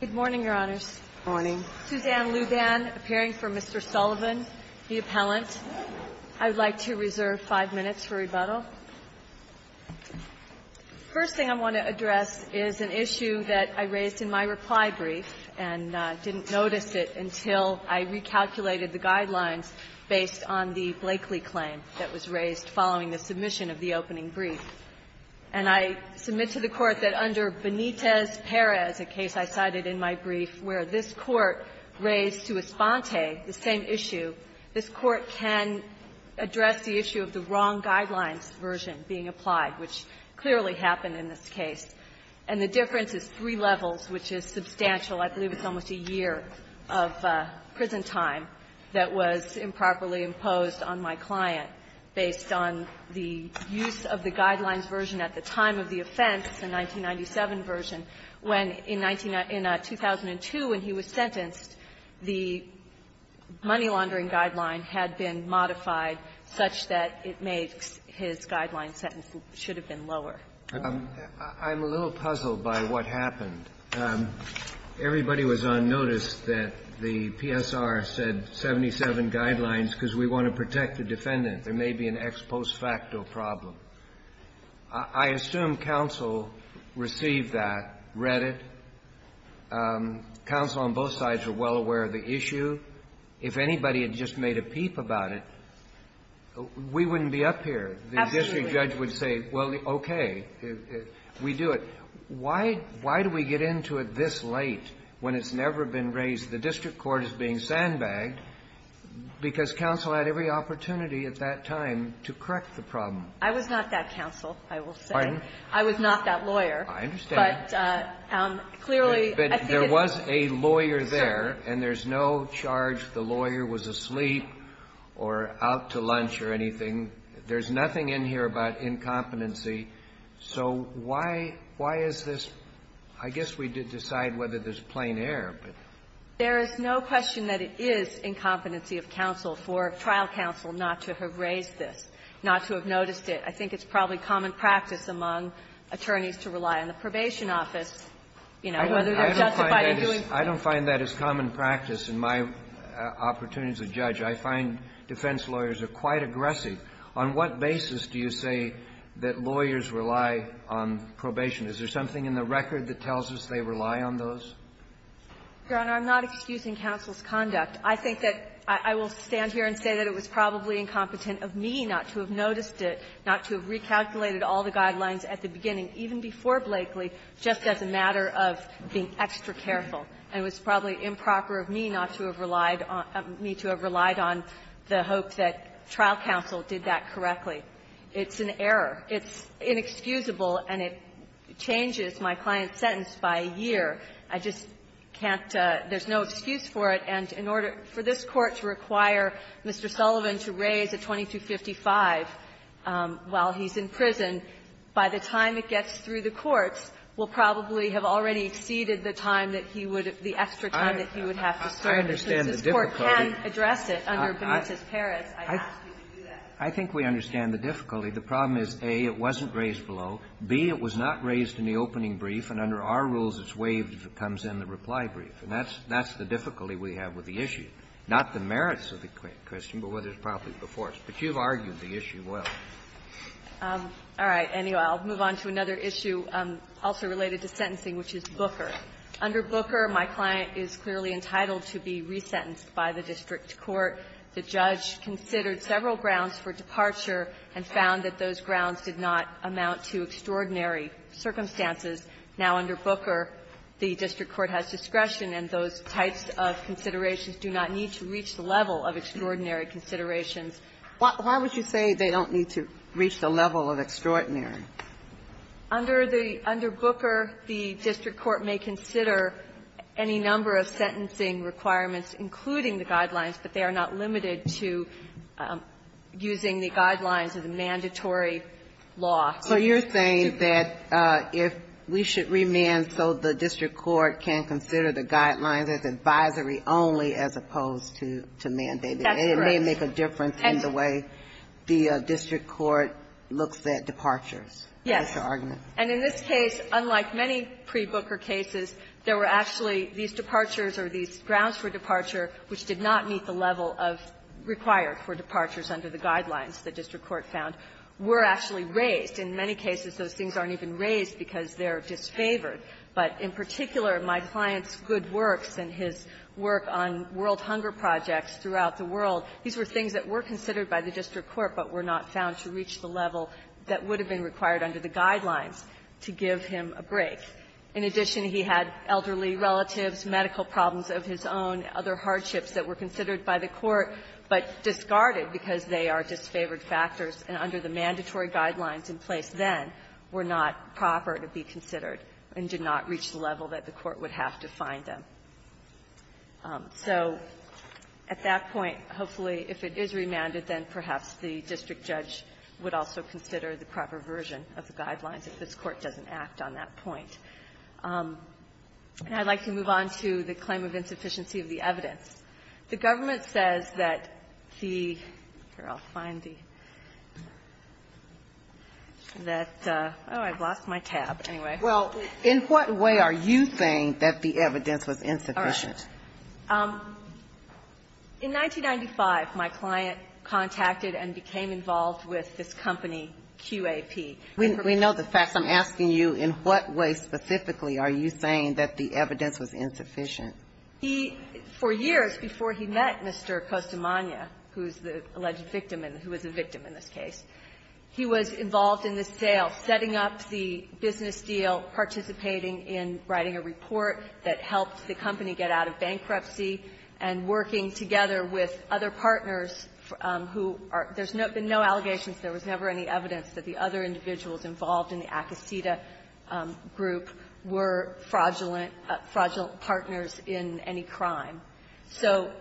Good morning, Your Honors. Good morning. Suzanne Luban, appearing for Mr. Sullivan, the appellant. I would like to reserve five minutes for rebuttal. The first thing I want to address is an issue that I raised in my reply brief, and didn't notice it until I recalculated the guidelines based on the Blakely claim that was raised following the submission of the opening brief. And I submit to the Court that under Benitez-Perez, a case I cited in my brief, where this Court raised to Esponte the same issue, this Court can address the issue of the wrong guidelines version being applied, which clearly happened in this case. And the difference is three levels, which is substantial. I believe it's almost a year of prison time that was improperly imposed on my client based on the use of the guidelines version at the time of the offense, the 1997 version, when in 19 — in 2002 when he was sentenced, the money-laundering guideline had been modified such that it made his guideline sentence should have been lower. I'm a little puzzled by what happened. Everybody was on notice that the PSR said 77 guidelines because we want to protect the defendant. There may be an ex post facto problem. I assume counsel received that, read it. Counsel on both sides were well aware of the issue. If anybody had just made a peep about it, we wouldn't be up here. The district judge would say, well, okay, we do it. Why do we get into it this late when it's never been raised? The district court is being sandbagged because counsel had every opportunity at that time to correct the problem. I was not that counsel, I will say. Pardon? I was not that lawyer. I understand. But clearly, I think it's absurd. But there was a lawyer there, and there's no charge the lawyer was asleep or out to lunch or anything. There's nothing in here about incompetency. So why — why is this — I guess we did decide whether there's plain air, but — There is no question that it is incompetency of counsel for trial counsel not to have raised this, not to have noticed it. I think it's probably common practice among attorneys to rely on the probation office, you know, whether they're justified in doing so. I don't find that as common practice in my opportunities as judge. I find defense lawyers are quite aggressive. On what basis do you say that lawyers rely on probation? Is there something in the record that tells us they rely on those? Your Honor, I'm not excusing counsel's conduct. I think that — I will stand here and say that it was probably incompetent of me not to have noticed it, not to have recalculated all the guidelines at the beginning, even before Blakely, just as a matter of being extra careful. And it was probably improper of me not to have relied on — me to have relied on the hope that trial counsel did that correctly. It's an error. It's inexcusable, and it changes my client's sentence by a year. I just can't — there's no excuse for it. And in order — for this Court to require Mr. Sullivan to raise a 2255 while he's in prison, by the time it gets through the courts, will probably have already exceeded the time that he would — the extra time that he would have to serve. And since this Court can address it under Benitez-Perez, I ask you to do that. I think we understand the difficulty. The problem is, A, it wasn't raised below. B, it was not raised in the opening brief, and under our rules, it's waived if it comes in the reply brief. And that's the difficulty we have with the issue, not the merits of the question, but whether it's properly before us. But you've argued the issue well. All right. Anyway, I'll move on to another issue also related to sentencing, which is Booker. Under Booker, my client is clearly entitled to be resentenced by the district court. The judge considered several grounds for departure and found that those grounds did not amount to extraordinary circumstances. Now, under Booker, the district court has discretion, and those types of considerations do not need to reach the level of extraordinary considerations. Why would you say they don't need to reach the level of extraordinary? Under the — under Booker, the district court may consider any number of sentencing requirements, including the guidelines, but they are not limited to using the guidelines of the mandatory law. So you're saying that if we should remand so the district court can consider the guidelines as advisory only as opposed to mandated. That's correct. It may make a difference in the way the district court looks at departures. Yes. That's your argument. And in this case, unlike many pre-Booker cases, there were actually these departures or these grounds for departure which did not meet the level of required for departures under the guidelines the district court found were actually raised. In many cases, those things aren't even raised because they're disfavored. But in particular, my client's good works and his work on world hunger projects throughout the world, these were things that were considered by the district court but were not found to reach the level that would have been required under the guidelines to give him a break. In addition, he had elderly relatives, medical problems of his own, other hardships that were considered by the court, but discarded because they are disfavored factors and under the mandatory guidelines in place then were not proper to be considered and did not reach the level that the court would have to find them. So at that point, hopefully, if it is remanded, then perhaps the district judge would also consider the proper version of the guidelines if this Court doesn't act on that point. And I'd like to move on to the claim of insufficiency of the evidence. The government says that the ---- here, I'll find the ---- that ---- oh, I've lost my tab. Anyway. Ginsburg. Well, in what way are you saying that the evidence was insufficient? Sherry. In 1995, my client contacted and became involved with this company QAP. We know the facts. I'm asking you, in what way specifically are you saying that the evidence was insufficient? He, for years before he met Mr. Costamagna, who's the alleged victim and who was a victim in this case, he was involved in the sale, setting up the business deal, participating in writing a report that helped the company get out of bankruptcy, and working together with other partners who are ---- there's been no allegations. There was never any evidence that the other individuals involved in the Acosita group were fraudulent ---- fraudulent partners in any crime. So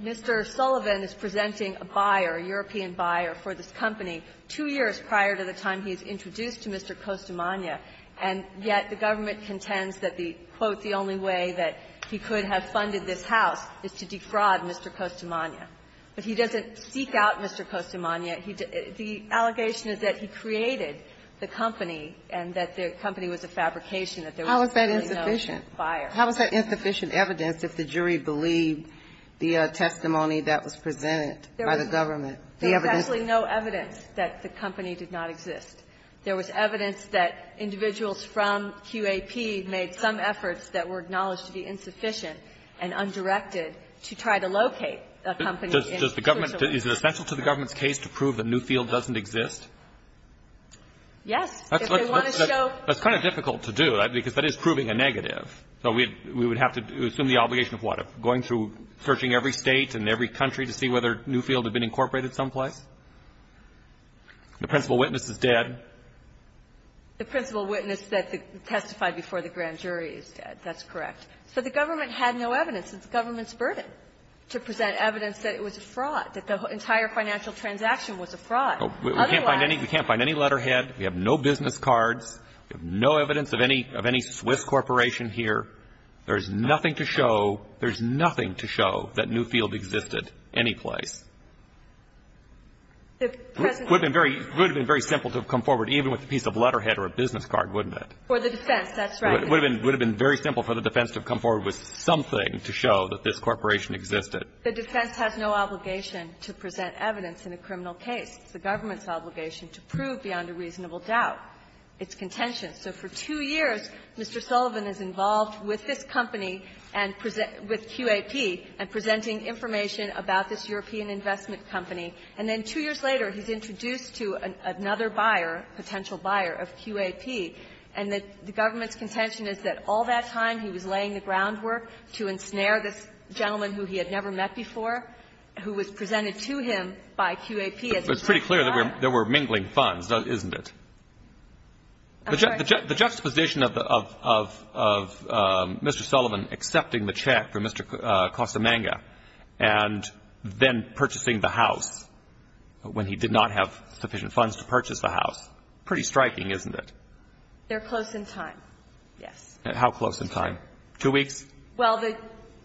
Mr. Sullivan is presenting a buyer, a European buyer, for this company two years prior to the time he's introduced to Mr. Costamagna, and yet the government contends that the quote, the only way that he could have funded this house is to defraud Mr. Costamagna. But he doesn't seek out Mr. Costamagna. He ---- the allegation is that he created the company and that the company was a fabrication that there was really no buyer. How is that insufficient? How is that insufficient evidence if the jury believed the testimony that was presented by the government? There was actually no evidence that the company did not exist. There was evidence that individuals from QAP made some efforts that were acknowledged to be insufficient and undirected to try to locate a company in search of water. Is it essential to the government's case to prove that Newfield doesn't exist? Yes. That's kind of difficult to do, because that is proving a negative. So we would have to assume the obligation of what, of going through, searching every State and every country to see whether Newfield had been incorporated someplace? The principal witness is dead. The principal witness that testified before the grand jury is dead. That's correct. So the government had no evidence. It's the government's burden to present evidence that it was a fraud, that the entire financial transaction was a fraud. Otherwise ---- We can't find any letterhead. We have no business cards. We have no evidence of any Swiss corporation here. There's nothing to show. There's nothing to show that Newfield existed anyplace. It would have been very simple to come forward even with a piece of letterhead or a business card, wouldn't it? For the defense, that's right. It would have been very simple for the defense to have come forward with something to show that this corporation existed. The defense has no obligation to present evidence in a criminal case. It's the government's obligation to prove beyond a reasonable doubt its contention. So for two years, Mr. Sullivan is involved with this company and with QAP and presenting information about this European investment company. And then two years later, he's introduced to another buyer, potential buyer, of QAP. And the government's contention is that all that time he was laying the groundwork to ensnare this gentleman who he had never met before, who was presented to him by QAP as a potential buyer. But it's pretty clear that there were mingling funds, isn't it? I'm sorry? The juxtaposition of Mr. Sullivan accepting the check from Mr. Costamanga and then purchasing the house when he did not have sufficient funds to purchase the house, pretty striking, isn't it? They're close in time, yes. And how close in time? Two weeks? Well, the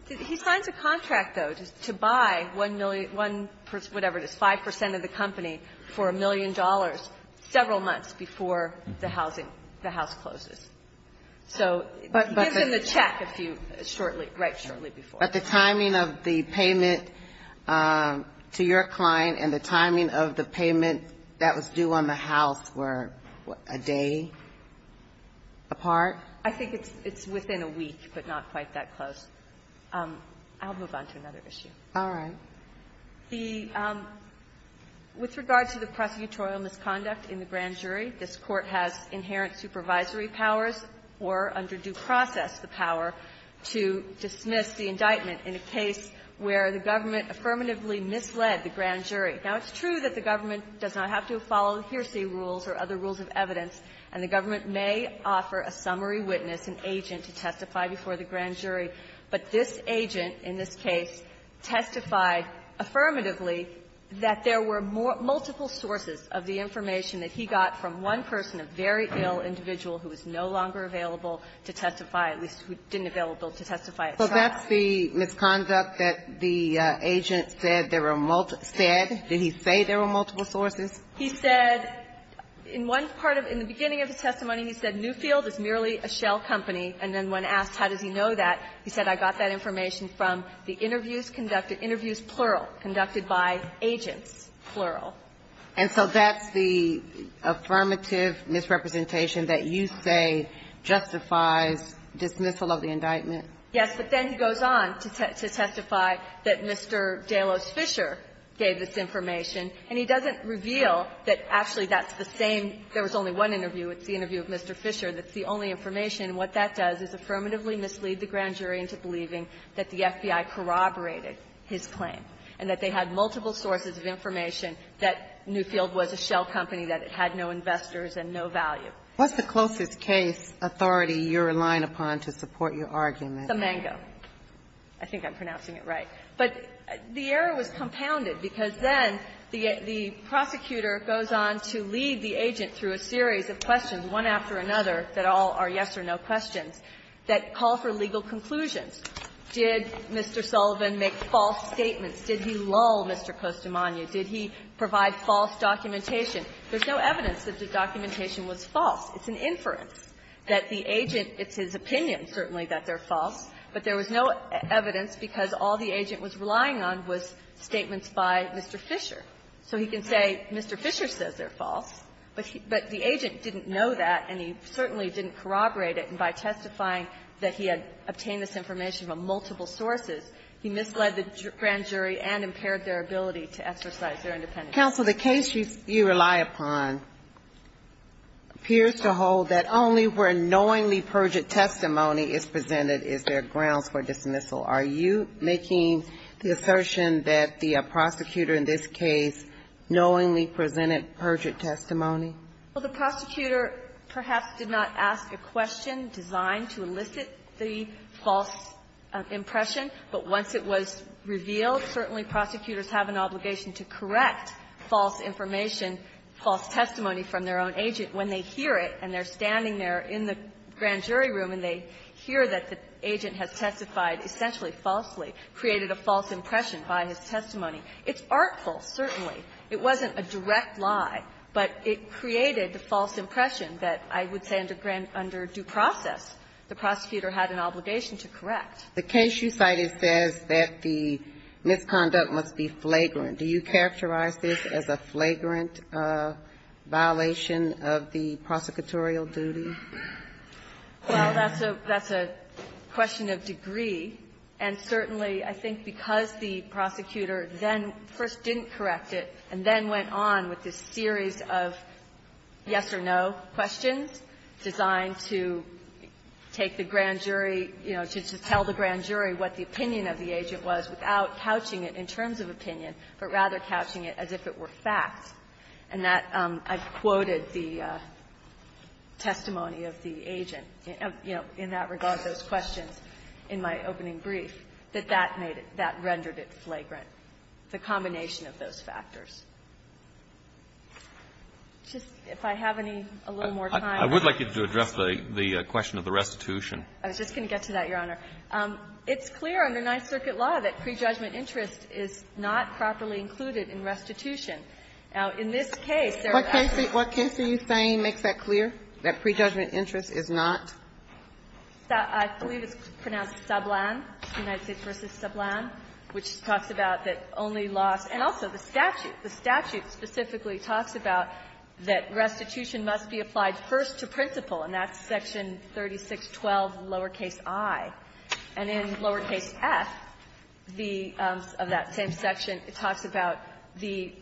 he signs a contract, though, to buy 1 million, 1, whatever it is, 5 percent of the company for a million dollars several months before the housing, the house closes. So he gives him the check a few, shortly, right shortly before. But the timing of the payment to your client and the timing of the payment that was made to you on the house were a day apart? I think it's within a week, but not quite that close. I'll move on to another issue. All right. The – with regard to the prosecutorial misconduct in the grand jury, this Court has inherent supervisory powers or under due process the power to dismiss the indictment in a case where the government affirmatively misled the grand jury. Now, it's true that the government does not have to follow the Heersey rules or other rules of evidence, and the government may offer a summary witness, an agent, to testify before the grand jury. But this agent in this case testified affirmatively that there were more – multiple sources of the information that he got from one person, a very ill individual who was no longer available to testify, at least who didn't available to testify at trial. So that's the misconduct that the agent said there were – said? Did he say there were multiple sources? He said in one part of – in the beginning of his testimony, he said Newfield is merely a shell company. And then when asked how does he know that, he said, I got that information from the interviews conducted – interviews, plural, conducted by agents, plural. And so that's the affirmative misrepresentation that you say justifies dismissal of the indictment? Yes. But then he goes on to testify that Mr. Delos Fisher gave this information. And he doesn't reveal that actually that's the same – there was only one interview. It's the interview of Mr. Fisher. That's the only information. What that does is affirmatively mislead the grand jury into believing that the FBI corroborated his claim and that they had multiple sources of information that Newfield was a shell company, that it had no investors and no value. What's the closest case authority you're relying upon to support your argument? The Mango. I think I'm pronouncing it right. But the error was compounded because then the prosecutor goes on to lead the agent through a series of questions, one after another, that all are yes or no questions, that call for legal conclusions. Did Mr. Sullivan make false statements? Did he lull Mr. Costamagna? Did he provide false documentation? There's no evidence that the documentation was false. It's an inference that the agent – it's his opinion, certainly, that they're false, but there was no evidence because all the agent was relying on was statements by Mr. Fisher. So he can say Mr. Fisher says they're false, but he – but the agent didn't know that, and he certainly didn't corroborate it. And by testifying that he had obtained this information from multiple sources, he misled the grand jury and impaired their ability to exercise their independence. But, counsel, the case you rely upon appears to hold that only where knowingly perjured testimony is presented is there grounds for dismissal. Are you making the assertion that the prosecutor in this case knowingly presented perjured testimony? Well, the prosecutor perhaps did not ask a question designed to elicit the false impression, but once it was revealed, certainly prosecutors have an obligation to correct false information, false testimony from their own agent when they hear it and they're standing there in the grand jury room and they hear that the agent has testified essentially falsely, created a false impression by his testimony. It's artful, certainly. It wasn't a direct lie, but it created the false impression that, I would say, under due process, the prosecutor had an obligation to correct. The case you cited says that the misconduct must be flagrant. Do you characterize this as a flagrant violation of the prosecutorial duty? Well, that's a question of degree, and certainly, I think, because the prosecutor then first didn't correct it and then went on with this series of yes-or-no questions designed to take the grand jury, you know, to tell the grand jury what the opinion of the agent was without couching it in terms of opinion, but rather couching it as if it were fact, and that I've quoted the testimony of the agent, you know, in that regard, those questions in my opening brief, that that made it, that rendered it flagrant, the combination of those factors. Just, if I have any, a little more time. I would like you to address the question of the restitution. I was just going to get to that, Your Honor. It's clear under Ninth Circuit law that prejudgment interest is not properly included in restitution. Now, in this case, there are actually not. What case are you saying makes that clear, that prejudgment interest is not? I believe it's pronounced Sablan, United States v. Sablan, which talks about that only laws, and also the statute. The statute specifically talks about that restitution must be applied first to principal, and that's Section 3612, lowercase i. And in lowercase f, the, of that same section, it talks about the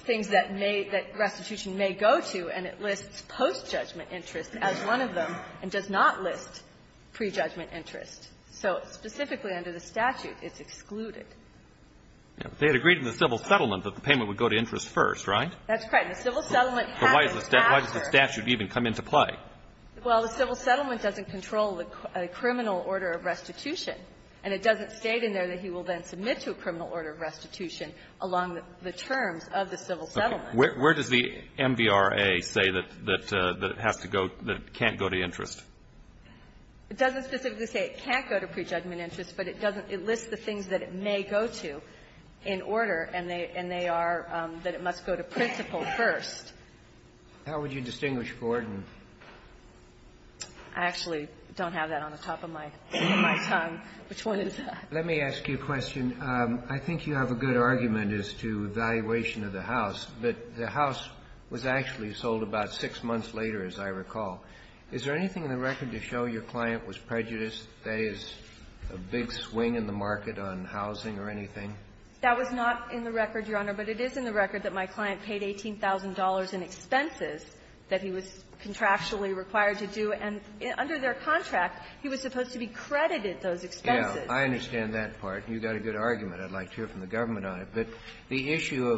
things that may, that restitution may go to, and it lists post-judgment interest as one of them. And does not list prejudgment interest. So specifically under the statute, it's excluded. They had agreed in the civil settlement that the payment would go to interest first, right? That's right. And the civil settlement has a factor. But why does the statute even come into play? Well, the civil settlement doesn't control the criminal order of restitution, and it doesn't state in there that he will then submit to a criminal order of restitution along the terms of the civil settlement. Where does the MVRA say that it has to go, that it can't go to interest? It doesn't specifically say it can't go to prejudgment interest, but it doesn't It lists the things that it may go to in order, and they are that it must go to principal first. How would you distinguish for it? I actually don't have that on the top of my tongue. Which one is that? Let me ask you a question. I think you have a good argument as to valuation of the house. But the house was actually sold about six months later, as I recall. Is there anything in the record to show your client was prejudiced? That is, a big swing in the market on housing or anything? That was not in the record, Your Honor. But it is in the record that my client paid $18,000 in expenses that he was contractually required to do. And under their contract, he was supposed to be credited those expenses. I understand that part. You've got a good argument. I'd like to hear from the government on it. But the issue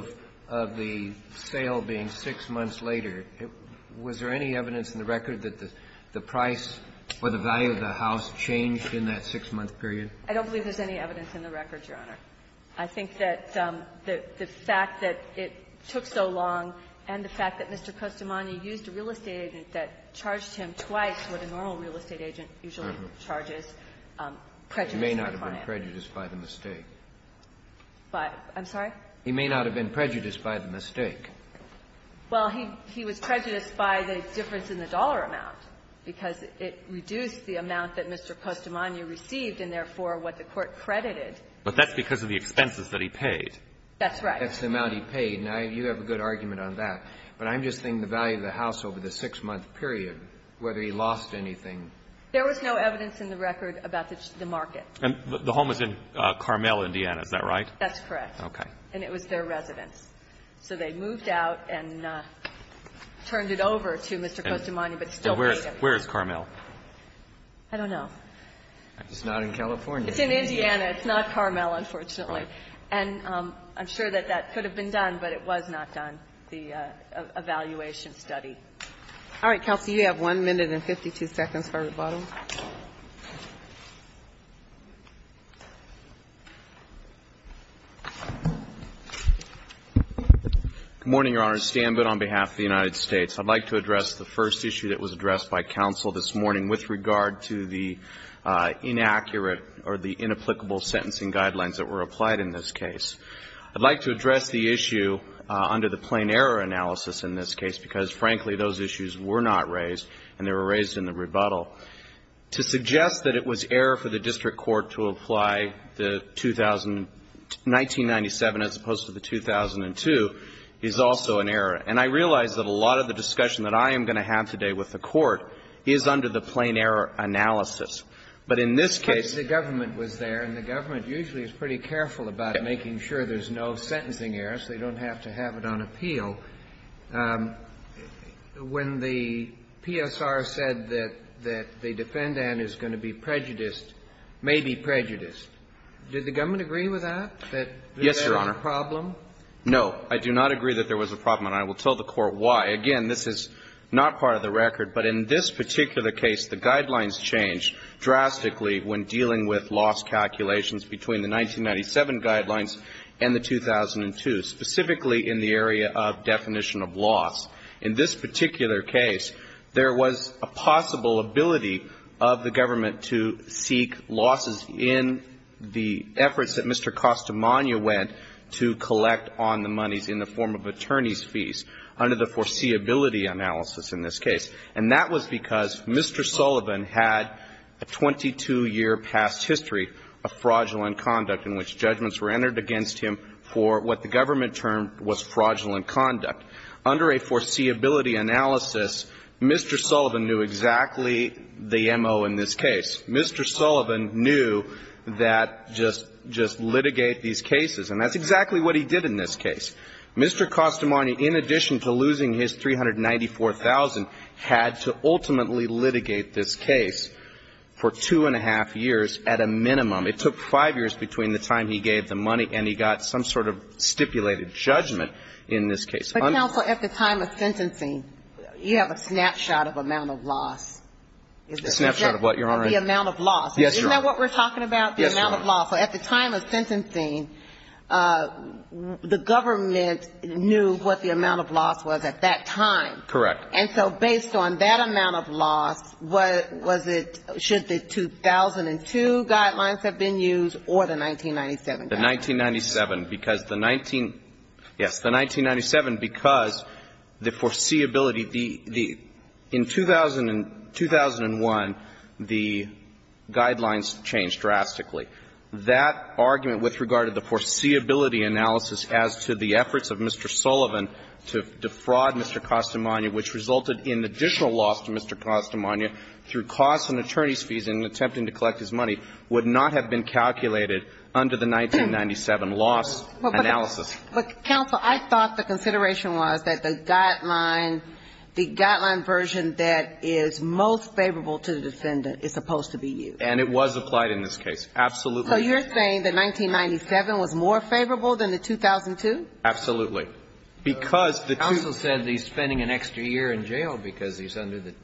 of the sale being six months later, was there any evidence in the record that the price or the value of the house changed in that six-month period? I don't believe there's any evidence in the record, Your Honor. I think that the fact that it took so long and the fact that Mr. Costomagno used a real estate agent that charged him twice what a normal real estate agent usually charges prejudices the client. He may not have been prejudiced by the mistake. I'm sorry? He may not have been prejudiced by the mistake. Well, he was prejudiced by the difference in the dollar amount, because it reduced the amount that Mr. Costomagno received and, therefore, what the Court credited. But that's because of the expenses that he paid. That's right. That's the amount he paid. Now, you have a good argument on that. But I'm just thinking the value of the house over the six-month period, whether he lost anything. There was no evidence in the record about the market. And the home was in Carmel, Indiana. Is that right? That's correct. Okay. And it was their residence. So they moved out and turned it over to Mr. Costomagno, but still paid him. And where is Carmel? I don't know. It's not in California. It's in Indiana. It's not Carmel, unfortunately. And I'm sure that that could have been done, but it was not done, the evaluation study. All right. Counsel, you have 1 minute and 52 seconds for rebuttal. Good morning, Your Honor. It's Stan Butt on behalf of the United States. I'd like to address the first issue that was addressed by counsel this morning with regard to the inaccurate or the inapplicable sentencing guidelines that were applied in this case. I'd like to address the issue under the plain error analysis in this case, because, frankly, those issues were not raised, and they were raised in the rebuttal. To suggest that it was error for the district court to apply the 1997 as opposed to the 2002 is also an error. And I realize that a lot of the discussion that I am going to have today with the court is under the plain error analysis. But in this case the government was there, and the government usually is pretty careful about making sure there's no sentencing error, so they don't have to have it on appeal. When the PSR said that the defendant is going to be prejudiced, may be prejudiced, did the government agree with that? Yes, Your Honor. That there was a problem? No. I do not agree that there was a problem, and I will tell the court why. Again, this is not part of the record, but in this particular case, the guidelines change drastically when dealing with lost calculations between the 1997 guidelines and the 2002, specifically in the area of definition of loss. In this particular case, there was a possible ability of the government to seek losses in the efforts that Mr. Costamagna went to collect on the monies in the form of attorney's fees under the foreseeability analysis in this case. And that was because Mr. Sullivan had a 22-year past history of fraudulent conduct in which judgments were entered against him for what the government termed was fraudulent conduct. Under a foreseeability analysis, Mr. Sullivan knew exactly the M.O. in this case. Mr. Sullivan knew that just litigate these cases, and that's exactly what he did in this case. Mr. Costamagna, in addition to losing his $394,000, had to ultimately litigate this case for two and a half years at a minimum. It took five years between the time he gave the money and he got some sort of stipulated judgment in this case. But, counsel, at the time of sentencing, you have a snapshot of amount of loss. A snapshot of what, Your Honor? Of the amount of loss. Yes, Your Honor. Isn't that what we're talking about, the amount of loss? Yes, Your Honor. So at the time of sentencing, the government knew what the amount of loss was at that time. Correct. And so based on that amount of loss, what was it, should the 2002 guidelines have been used or the 1997 guidelines? The 1997, because the 19 yes, the 1997, because the foreseeability, the the, in 2000 and 2001, the guidelines changed drastically. That argument with regard to the foreseeability analysis as to the efforts of Mr. Sullivan to defraud Mr. Costamagna, which resulted in additional loss to Mr. Costamagna through costs and attorney's fees in attempting to collect his money, would not have been calculated under the 1997 loss analysis. But, counsel, I thought the consideration was that the guideline, the guideline version that is most favorable to the defendant is supposed to be used. And it was applied in this case, absolutely. So you're saying that 1997 was more favorable than the 2002? Absolutely. Because the two the Counsel said he's spending an extra year in jail because he's under the,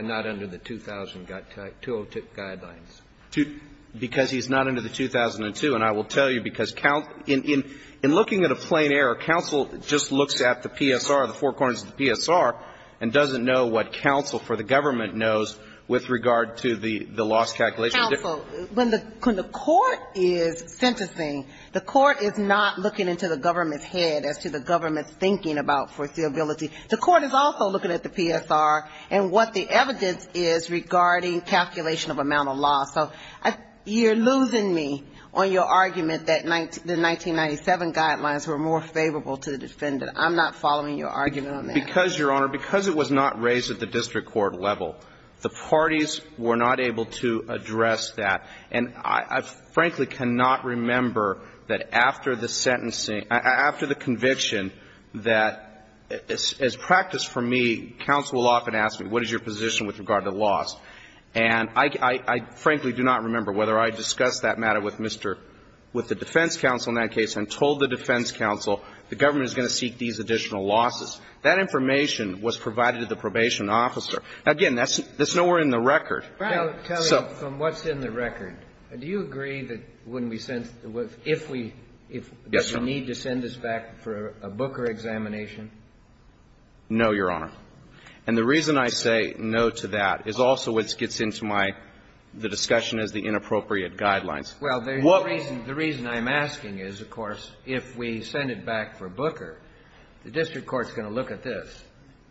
not under the 2000, 202 guidelines. Because he's not under the 2002. And I will tell you, because in looking at a plain error, counsel just looks at the PSR, the four corners of the PSR, and doesn't know what counsel for the government knows with regard to the loss calculation. Counsel, when the court is sentencing, the court is not looking into the government's as to the government's thinking about foreseeability. The court is also looking at the PSR and what the evidence is regarding calculation of amount of loss. So you're losing me on your argument that the 1997 guidelines were more favorable to the defendant. I'm not following your argument on that. Because, Your Honor, because it was not raised at the district court level, the parties were not able to address that. And I frankly cannot remember that after the sentencing, after the conviction, that as practice for me, counsel will often ask me, what is your position with regard to the loss? And I frankly do not remember whether I discussed that matter with Mr. — with the defense counsel in that case and told the defense counsel the government is going to seek these additional losses. That information was provided to the probation officer. Again, that's nowhere in the record. So — Tell me, from what's in the record, do you agree that when we sent — if we — Yes, Your Honor. — that we need to send this back for a Booker examination? No, Your Honor. And the reason I say no to that is also what gets into my — the discussion is the inappropriate guidelines. Well, the reason I'm asking is, of course, if we send it back for Booker, the district court is going to look at this.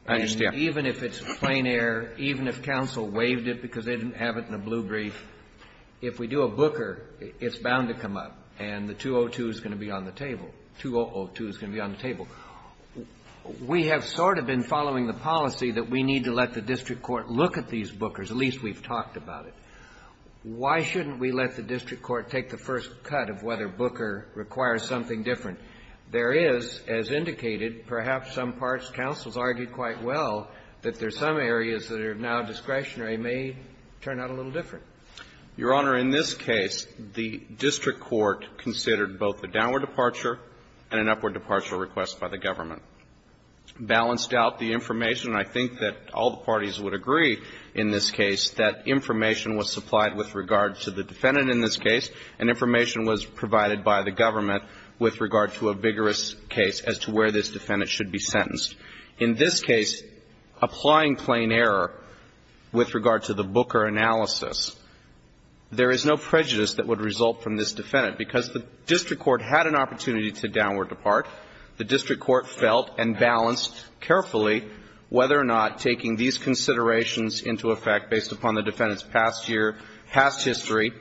I understand. Even if it's plain air, even if counsel waived it because they didn't have it in a blue brief, if we do a Booker, it's bound to come up, and the 202 is going to be on the table. 202 is going to be on the table. We have sort of been following the policy that we need to let the district court look at these Bookers, at least we've talked about it. Why shouldn't we let the district court take the first cut of whether Booker requires something different? There is, as indicated, perhaps some parts, counsel's argued quite well, that there's some areas that are now discretionary may turn out a little different. Your Honor, in this case, the district court considered both the downward departure and an upward departure request by the government, balanced out the information. I think that all the parties would agree in this case that information was supplied with regard to the defendant in this case, and information was provided by the government with regard to a vigorous case as to where this defendant should be sentenced. In this case, applying plain error with regard to the Booker analysis, there is no prejudice that would result from this defendant, because the district court had an opportunity to downward depart. The district court felt and balanced carefully whether or not taking these considerations into effect based upon the defendant's past year, past history,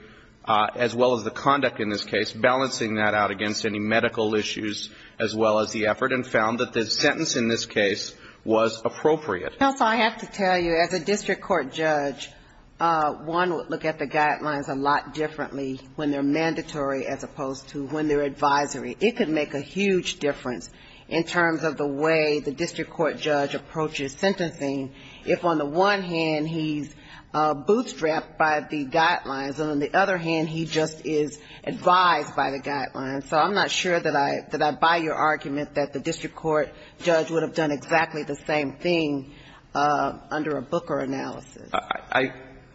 as well as the conduct in this case, balancing that out against any medical issues as well as the effort, and found that the sentence in this case was appropriate. Counsel, I have to tell you, as a district court judge, one would look at the guidelines a lot differently when they're mandatory as opposed to when they're advisory. It could make a huge difference in terms of the way the district court judge approaches sentencing if, on the one hand, he's bootstrapped by the guidelines, and on the other hand, he just is advised by the guidelines. So I'm not sure that I buy your argument that the district court judge would have done exactly the same thing under a Booker analysis.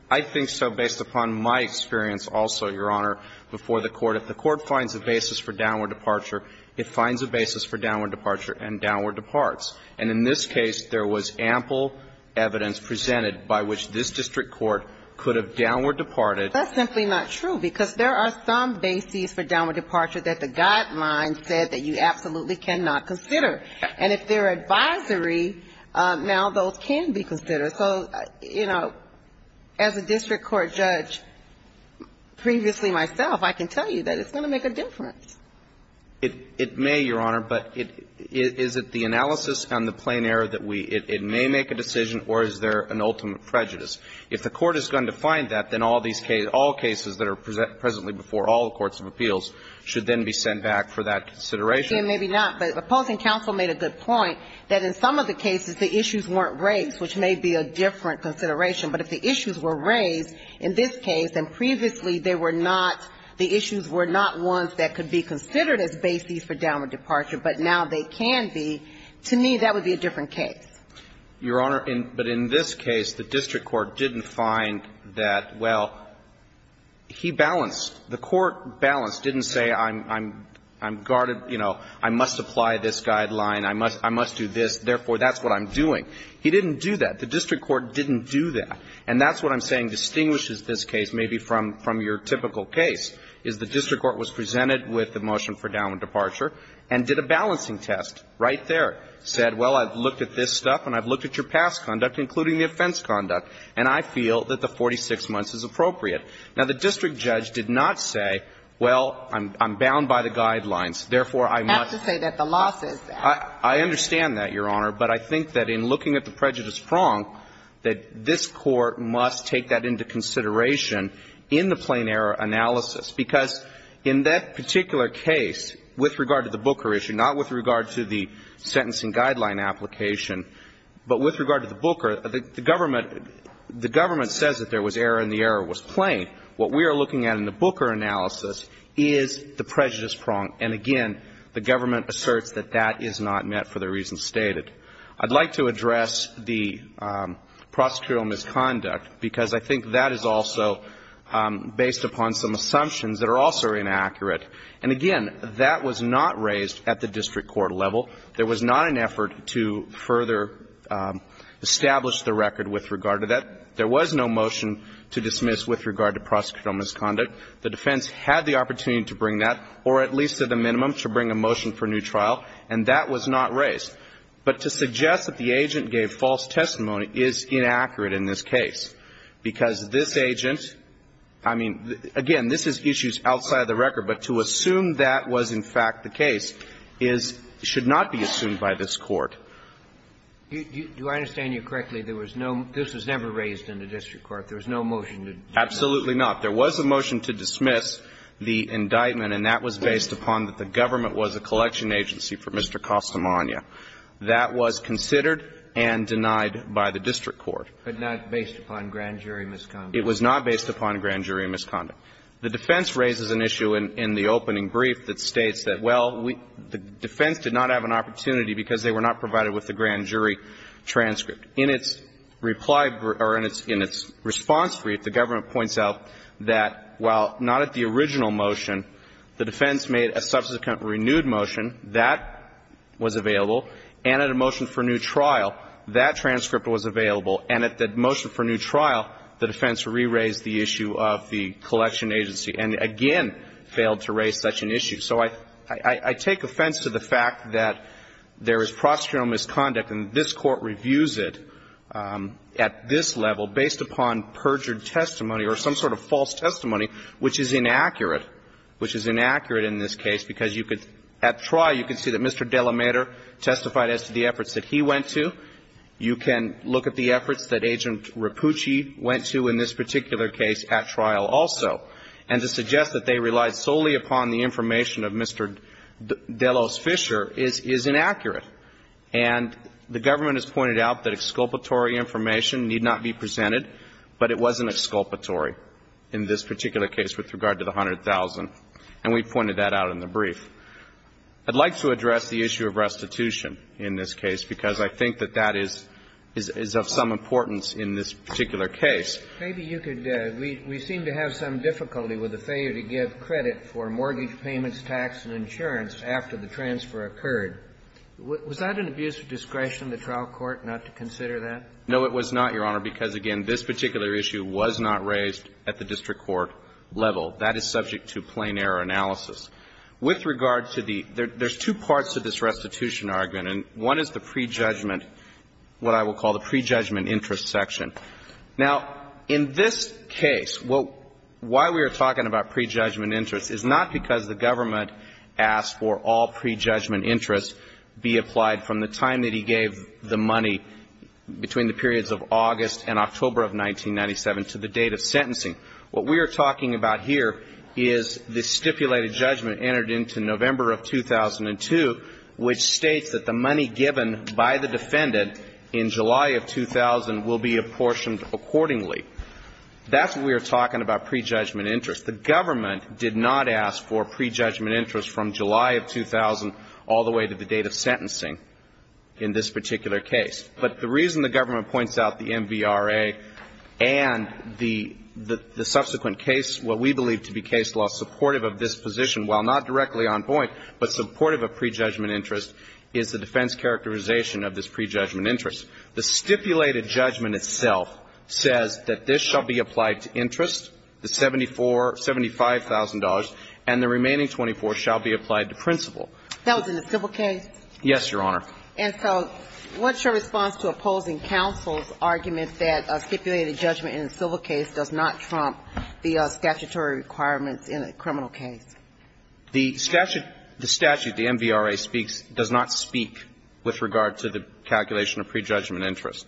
I think so based upon my experience also, Your Honor, before the court. If the court finds a basis for downward departure, it finds a basis for downward departure and downward departs. And in this case, there was ample evidence presented by which this district court could have downward departed. That's simply not true, because there are some bases for downward departure that the guidelines said that you absolutely cannot consider. And if they're advisory, now those can be considered. So, you know, as a district court judge previously myself, I can tell you that it's going to make a difference. It may, Your Honor, but it – is it the analysis and the plain error that we – it may make a decision, or is there an ultimate prejudice? If the court is going to find that, then all these cases – all cases that are present – presently before all the courts of appeals should then be sent back for that consideration. Maybe not, but opposing counsel made a good point that in some of the cases the issues weren't raised, which may be a different consideration. But if the issues were raised in this case, and previously they were not – the issues were not ones that could be considered as bases for downward departure, but now they can be, to me that would be a different case. Your Honor, in – but in this case, the district court didn't find that, well, he balanced – the court balanced, didn't say I'm – I'm guarded, you know, I must apply this guideline, I must – I must do this, therefore, that's what I'm doing. He didn't do that. The district court didn't do that. And that's what I'm saying distinguishes this case maybe from – from your typical case, is the district court was presented with the motion for downward departure and did a balancing test right there, said, well, I've looked at this stuff and I've looked at your past conduct, including the offense conduct, and I feel that the 46 months is appropriate. Now, the district judge did not say, well, I'm – I'm bound by the guidelines, therefore, I must – Have to say that the law says that. I understand that, Your Honor. But I think that in looking at the prejudice prong, that this Court must take that into consideration in the plain error analysis, because in that particular case, with regard to the Booker issue, not with regard to the sentencing guideline application, but with regard to the Booker, the government – the government says that there was error and the error was plain. What we are looking at in the Booker analysis is the prejudice prong. And again, the government asserts that that is not met for the reasons stated. I'd like to address the prosecutorial misconduct, because I think that is also based upon some assumptions that are also inaccurate. And again, that was not raised at the district court level. There was not an effort to further establish the record with regard to that. There was no motion to dismiss with regard to prosecutorial misconduct. The defense had the opportunity to bring that, or at least to the minimum, to bring a motion for new trial, and that was not raised. But to suggest that the agent gave false testimony is inaccurate in this case, because this agent – I mean, again, this is issues outside of the record, but to assume that was, in fact, the case is – should not be assumed by this Court. Do I understand you correctly? There was no – this was never raised in the district court. There was no motion to dismiss. Absolutely not. There was a motion to dismiss the indictment, and that was based upon that the government was a collection agency for Mr. Costamagna. That was considered and denied by the district court. But not based upon grand jury misconduct. It was not based upon grand jury misconduct. The defense raises an issue in the opening brief that states that, well, we – the defense did not have an opportunity because they were not provided with the grand jury transcript. In its reply – or in its response brief, the government points out that while not at the original motion, the defense made a subsequent renewed motion. That was available. And at a motion for new trial, that transcript was available. And at the motion for new trial, the defense re-raised the issue of the collection agency and again failed to raise such an issue. So I – I take offense to the fact that there is prosecutorial misconduct and this Court reviews it at this level based upon perjured testimony or some sort of false testimony, which is inaccurate. Which is inaccurate in this case because you could – at trial, you could see that Mr. Delamater testified as to the efforts that he went to. You can look at the efforts that Agent Rapucci went to in this particular case at trial also. And to suggest that they relied solely upon the information of Mr. Delos Fisher is – is inaccurate. And the government has pointed out that exculpatory information need not be presented, but it wasn't exculpatory in this particular case with regard to the $100,000. And we pointed that out in the brief. I'd like to address the issue of restitution in this case because I think that that is – is of some importance in this particular case. Maybe you could – we seem to have some difficulty with the failure to give credit for mortgage payments, tax and insurance after the transfer occurred. Was that an abuse of discretion, the trial court, not to consider that? No, it was not, Your Honor, because again, this particular issue was not raised at the district court level. That is subject to plain error analysis. With regard to the – there's two parts to this restitution argument. And one is the prejudgment – what I will call the prejudgment interest section. Now, in this case, what – why we are talking about prejudgment interest is not because the government asked for all prejudgment interests be applied from the time that he gave the money between the periods of August and October of 1997 to the date of sentencing. What we are talking about here is the stipulated judgment entered into November of 2002, which states that the money given by the defendant in July of 2000 will be apportioned accordingly. That's what we are talking about prejudgment interest. The government did not ask for prejudgment interest from July of 2000 all the way to the date of sentencing in this particular case. But the reason the government points out the MVRA and the subsequent case, what we believe to be case law supportive of this position, while not directly on point, but supportive of prejudgment interest, is the defense characterization of this prejudgment interest. The stipulated judgment itself says that this shall be applied to interest, the $75,000, and the remaining $24,000 shall be applied to principal. That was in the civil case? Yes, Your Honor. And so what's your response to opposing counsel's argument that stipulated judgment in a civil case does not trump the statutory requirements in a criminal case? The statute, the MVRA speaks, does not speak with regard to the calculation of prejudgment interest.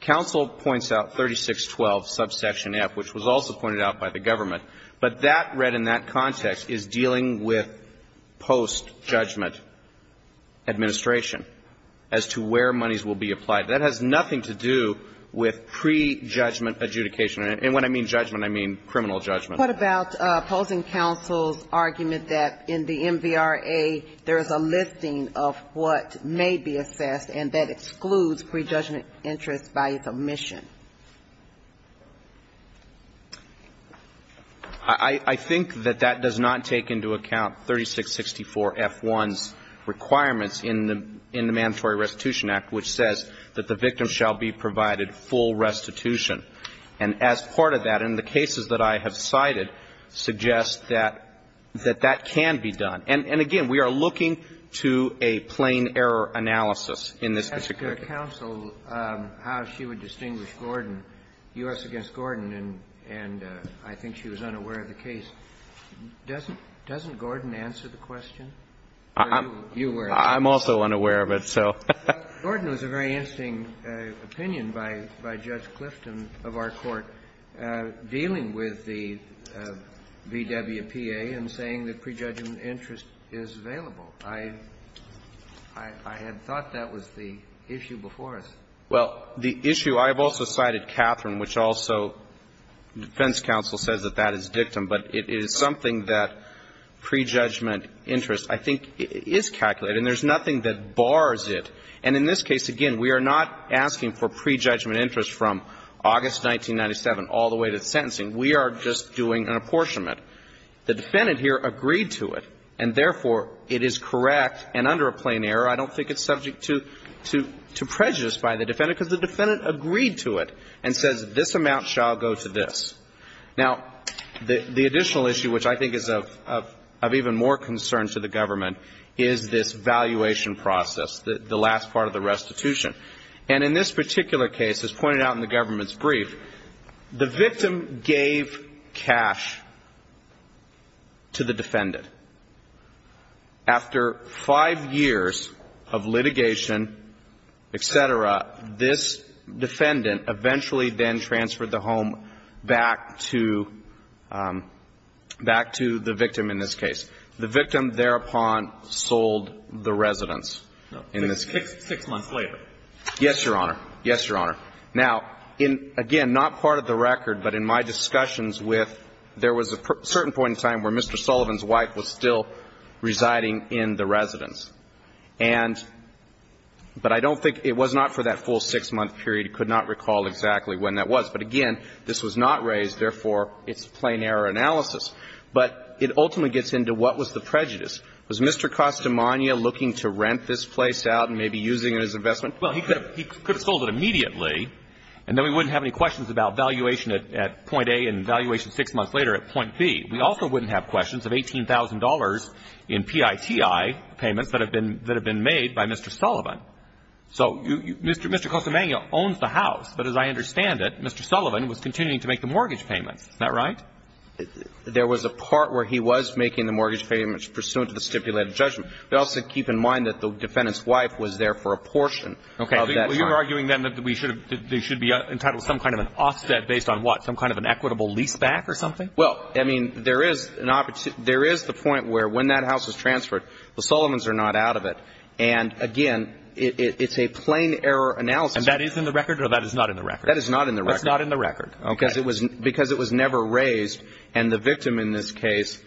Counsel points out 3612, subsection F, which was also pointed out by the government. But that read in that context is dealing with post-judgment administration. As to where monies will be applied. That has nothing to do with prejudgment adjudication. And when I mean judgment, I mean criminal judgment. What about opposing counsel's argument that in the MVRA, there is a listing of what may be assessed and that excludes prejudgment interest by its omission? I think that that does not take into account 3664 F1's requirements in the MVRA. The only thing that does, and it is in the MVRA, it's in the Mandatory Restitution Act, which says that the victim shall be provided full restitution. And as part of that, and the cases that I have cited suggest that that can be done. And again, we are looking to a plain error analysis in this. If I may ask counsel how she would distinguish Gordon, U.S. against Gordon, and I think she was unaware of the case. Doesn't Gordon answer the question? I'm also unaware of it, so. Gordon was a very interesting opinion by Judge Clifton of our Court dealing with the VWPA and saying that prejudgment interest is available. I had thought that was the issue before us. Well, the issue I have also cited, Catherine, which also defense counsel says that that is dictum, but it is something that prejudgment interest I think is calculated, and there's nothing that bars it. And in this case, again, we are not asking for prejudgment interest from August 1997 all the way to the sentencing. We are just doing an apportionment. The defendant here agreed to it, and therefore, it is correct, and under a plain error, I don't think it's subject to prejudice by the defendant, because the defendant agreed to it and says this amount shall go to this. Now, the additional issue, which I think is of even more concern to the government, is this valuation process, the last part of the restitution. And in this particular case, as pointed out in the government's brief, the victim gave cash to the defendant. After five years of litigation, et cetera, this defendant eventually then transferred the home back to the victim in this case. The victim thereupon sold the residence in this case. Six months later. Yes, Your Honor. Yes, Your Honor. Now, in, again, not part of the record, but in my discussions with, there was a certain point in time where Mr. Sullivan's wife was still residing in the residence. And, but I don't think, it was not for that full six-month period. I could not recall exactly when that was. But again, this was not raised, therefore, it's a plain error analysis. But it ultimately gets into what was the prejudice. Was Mr. Costamagna looking to rent this place out and maybe using it as an investment? Well, he could have sold it immediately, and then we wouldn't have any questions about valuation at point A and valuation six months later at point B. We also wouldn't have questions of $18,000 in PITI payments that have been made by Mr. Sullivan. So Mr. Costamagna owns the house, but as I understand it, Mr. Sullivan was continuing to make the mortgage payments. Isn't that right? There was a part where he was making the mortgage payments pursuant to the stipulated judgment. But also keep in mind that the defendant's wife was there for a portion of that time. Okay. Well, you're arguing, then, that we should have been entitled to some kind of an offset based on what? Some kind of an equitable leaseback or something? Well, I mean, there is an opportunity – there is the point where when that house was transferred, the Sullivans are not out of it. And again, it's a plain error analysis. And that is in the record or that is not in the record? That is not in the record. That's not in the record. Okay. Because it was never raised, and the victim in this case,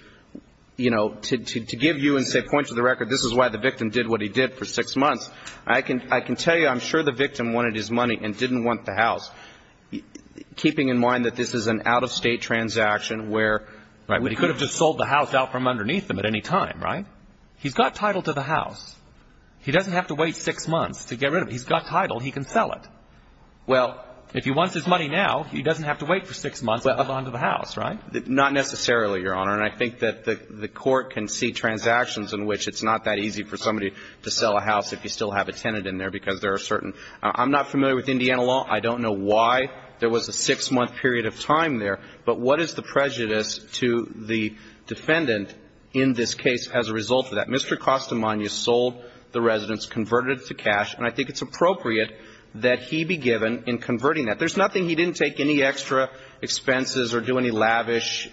you know, to give you and say, point to the record, this is why the victim did what he did for six months. I can tell you, I'm sure the victim wanted his money and didn't want the house, keeping in mind that this is an out-of-state transaction where – Right. But he could have just sold the house out from underneath him at any time, right? He's got title to the house. He doesn't have to wait six months to get rid of it. He's got title. He can sell it. Well – If he wants his money now, he doesn't have to wait for six months to move on to the house, right? Not necessarily, Your Honor. And I think that the Court can see transactions in which it's not that easy for somebody to sell a house if you still have a tenant in there because there are certain – I'm not familiar with Indiana law. I don't know why there was a six-month period of time there. But what is the prejudice to the defendant in this case as a result of that? Mr. Castamaglia sold the residence, converted it to cash, and I think it's appropriate that he be given in converting that. There's nothing – he didn't take any extra expenses or do any lavish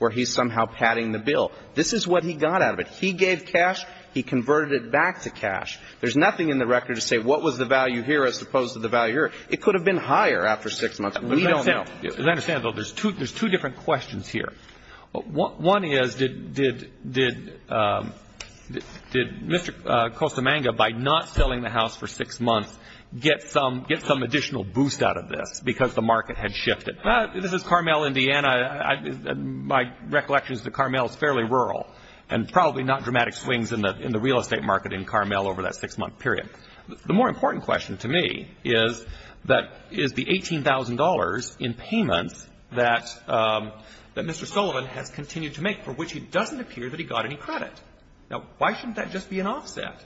where he's padding the bill. This is what he got out of it. He gave cash. He converted it back to cash. There's nothing in the record to say what was the value here as opposed to the value here. It could have been higher after six months. We don't know. As I understand it, though, there's two different questions here. One is, did Mr. Castamaglia, by not selling the house for six months, get some additional boost out of this because the market had shifted? This is Carmel, Indiana. My recollection is that Carmel is fairly rural and probably not dramatic swings in the real estate market in Carmel over that six-month period. The more important question to me is, is the $18,000 in payments that Mr. Sullivan has continued to make for which it doesn't appear that he got any credit. Now, why shouldn't that just be an offset?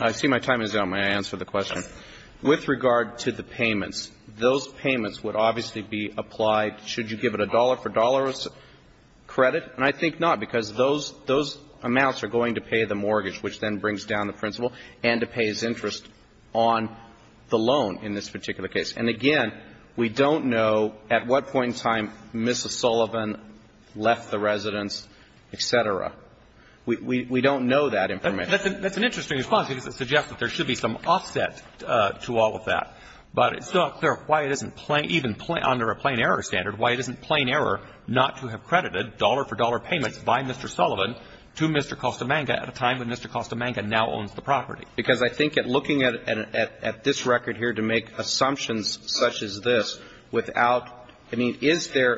I see my time is up. May I answer the question? Yes. With regard to the payments, those payments would obviously be applied should you give it a dollar-for-dollar credit. And I think not, because those amounts are going to pay the mortgage, which then brings down the principal, and to pay his interest on the loan in this particular case. And, again, we don't know at what point in time Mrs. Sullivan left the residence, et cetera. We don't know that information. That's an interesting response. I think it suggests that there should be some offset to all of that. But it's not clear why it isn't even under a plain error standard, why it isn't plain error not to have credited dollar-for-dollar payments by Mr. Sullivan to Mr. Costamanga at a time when Mr. Costamanga now owns the property. Because I think at looking at this record here to make assumptions such as this without any – is there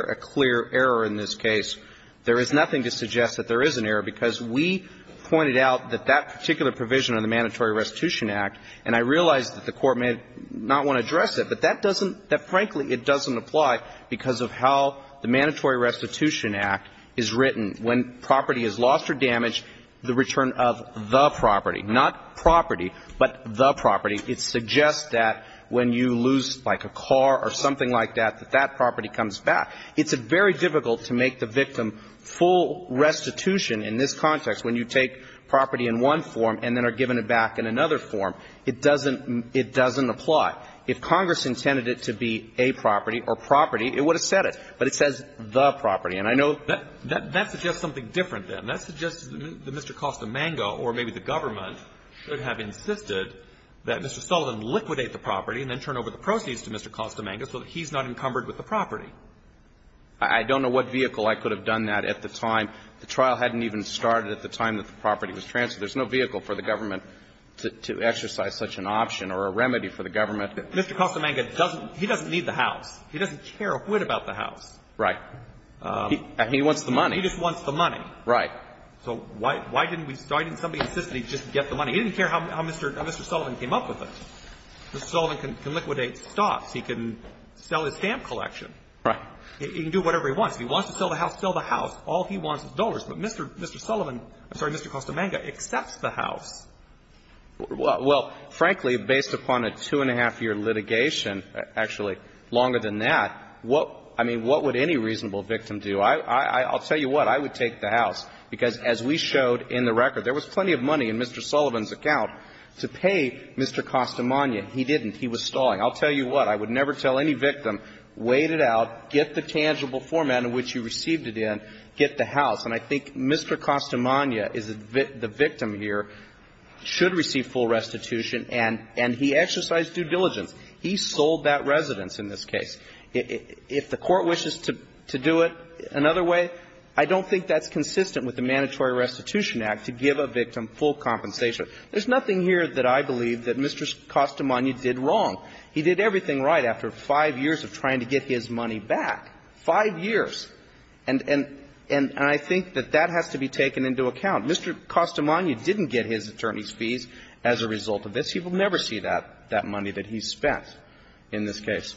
a clear error in this case? There is nothing to suggest that there is an error, because we pointed out that that provision in the Mandatory Restitution Act, and I realize that the Court may not want to address it, but that doesn't – that, frankly, it doesn't apply because of how the Mandatory Restitution Act is written. When property is lost or damaged, the return of the property, not property, but the property, it suggests that when you lose, like, a car or something like that, that that property comes back. It's very difficult to make the victim full restitution in this context when you take property in one form and then are given it back in another form. It doesn't – it doesn't apply. If Congress intended it to be a property or property, it would have said it. But it says the property. And I know – That – that suggests something different, then. That suggests that Mr. Costamanga or maybe the government should have insisted that Mr. Sullivan liquidate the property and then turn over the proceeds to Mr. Costamanga so that he's not encumbered with the property. I don't know what vehicle I could have done that at the time. The trial hadn't even started at the time that the property was transferred. There's no vehicle for the government to exercise such an option or a remedy for the government. Mr. Costamanga doesn't – he doesn't need the house. He doesn't care a whit about the house. Right. He wants the money. He just wants the money. Right. So why didn't we – why didn't somebody insist that he just get the money? He didn't care how Mr. Sullivan came up with it. Mr. Sullivan can liquidate stocks. He can sell his stamp collection. Right. He can do whatever he wants. If he wants to sell the house, sell the house. All he wants is dollars. But Mr. Sullivan – I'm sorry, Mr. Costamanga accepts the house. Well, frankly, based upon a two-and-a-half-year litigation, actually longer than that, I mean, what would any reasonable victim do? I'll tell you what. I would take the house, because as we showed in the record, there was plenty of money in Mr. Sullivan's account to pay Mr. Costamanga. He didn't. He was stalling. I'll tell you what. I would never tell any victim, wait it out, get the tangible format in which you received it in, get the house. And I think Mr. Costamanga is the victim here, should receive full restitution, and he exercised due diligence. He sold that residence in this case. If the Court wishes to do it another way, I don't think that's consistent with the Mandatory Restitution Act to give a victim full compensation. There's nothing here that I believe that Mr. Costamanga did wrong. He did everything right after five years of trying to get his money back. Five years. And I think that that has to be taken into account. Mr. Costamanga didn't get his attorney's fees as a result of this. He will never see that money that he spent in this case.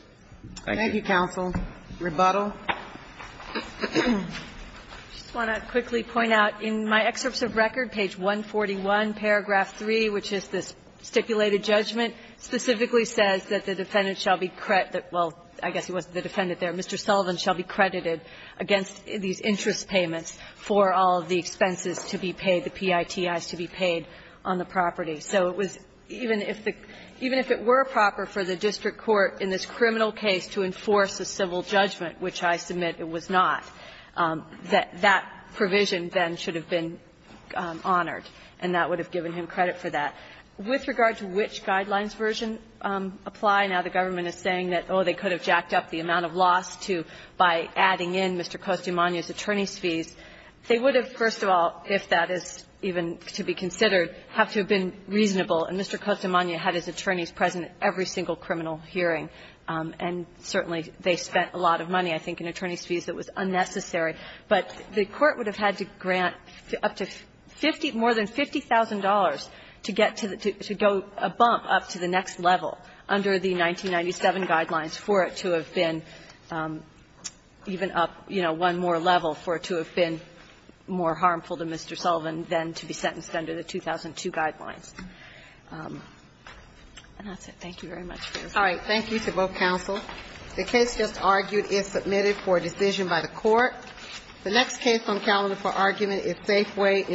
Thank you. Thank you, counsel. Rebuttal. I just want to quickly point out in my excerpts of record, page 141, paragraph 3, which is the stipulated judgment, specifically says that the defendant shall be credited. Well, I guess it wasn't the defendant there. Mr. Sullivan shall be credited against these interest payments for all of the expenses to be paid, the PITIs to be paid on the property. So it was even if the – even if it were proper for the district court in this criminal case to enforce a civil judgment, which I submit it was not, that that provision then should have been honored, and that would have given him credit for that. With regard to which guidelines version apply, now the government is saying that, oh, they could have jacked up the amount of loss to by adding in Mr. Costamanga's attorney's fees. They would have, first of all, if that is even to be considered, have to have been reasonable. And Mr. Costamanga had his attorneys present at every single criminal hearing, and certainly they spent a lot of money, I think, in attorney's fees that was unnecessary. But the Court would have had to grant up to 50 – more than $50,000 to get to go a bump up to the next level under the 1997 guidelines for it to have been even up, you know, one more level for it to have been more harmful to Mr. Sullivan than to be sentenced under the 2002 guidelines. And that's it. Thank you very much, Justice Sotomayor. Thank you to both counsel. The case just argued is submitted for decision by the Court. The next case on calendar for argument is Safeway.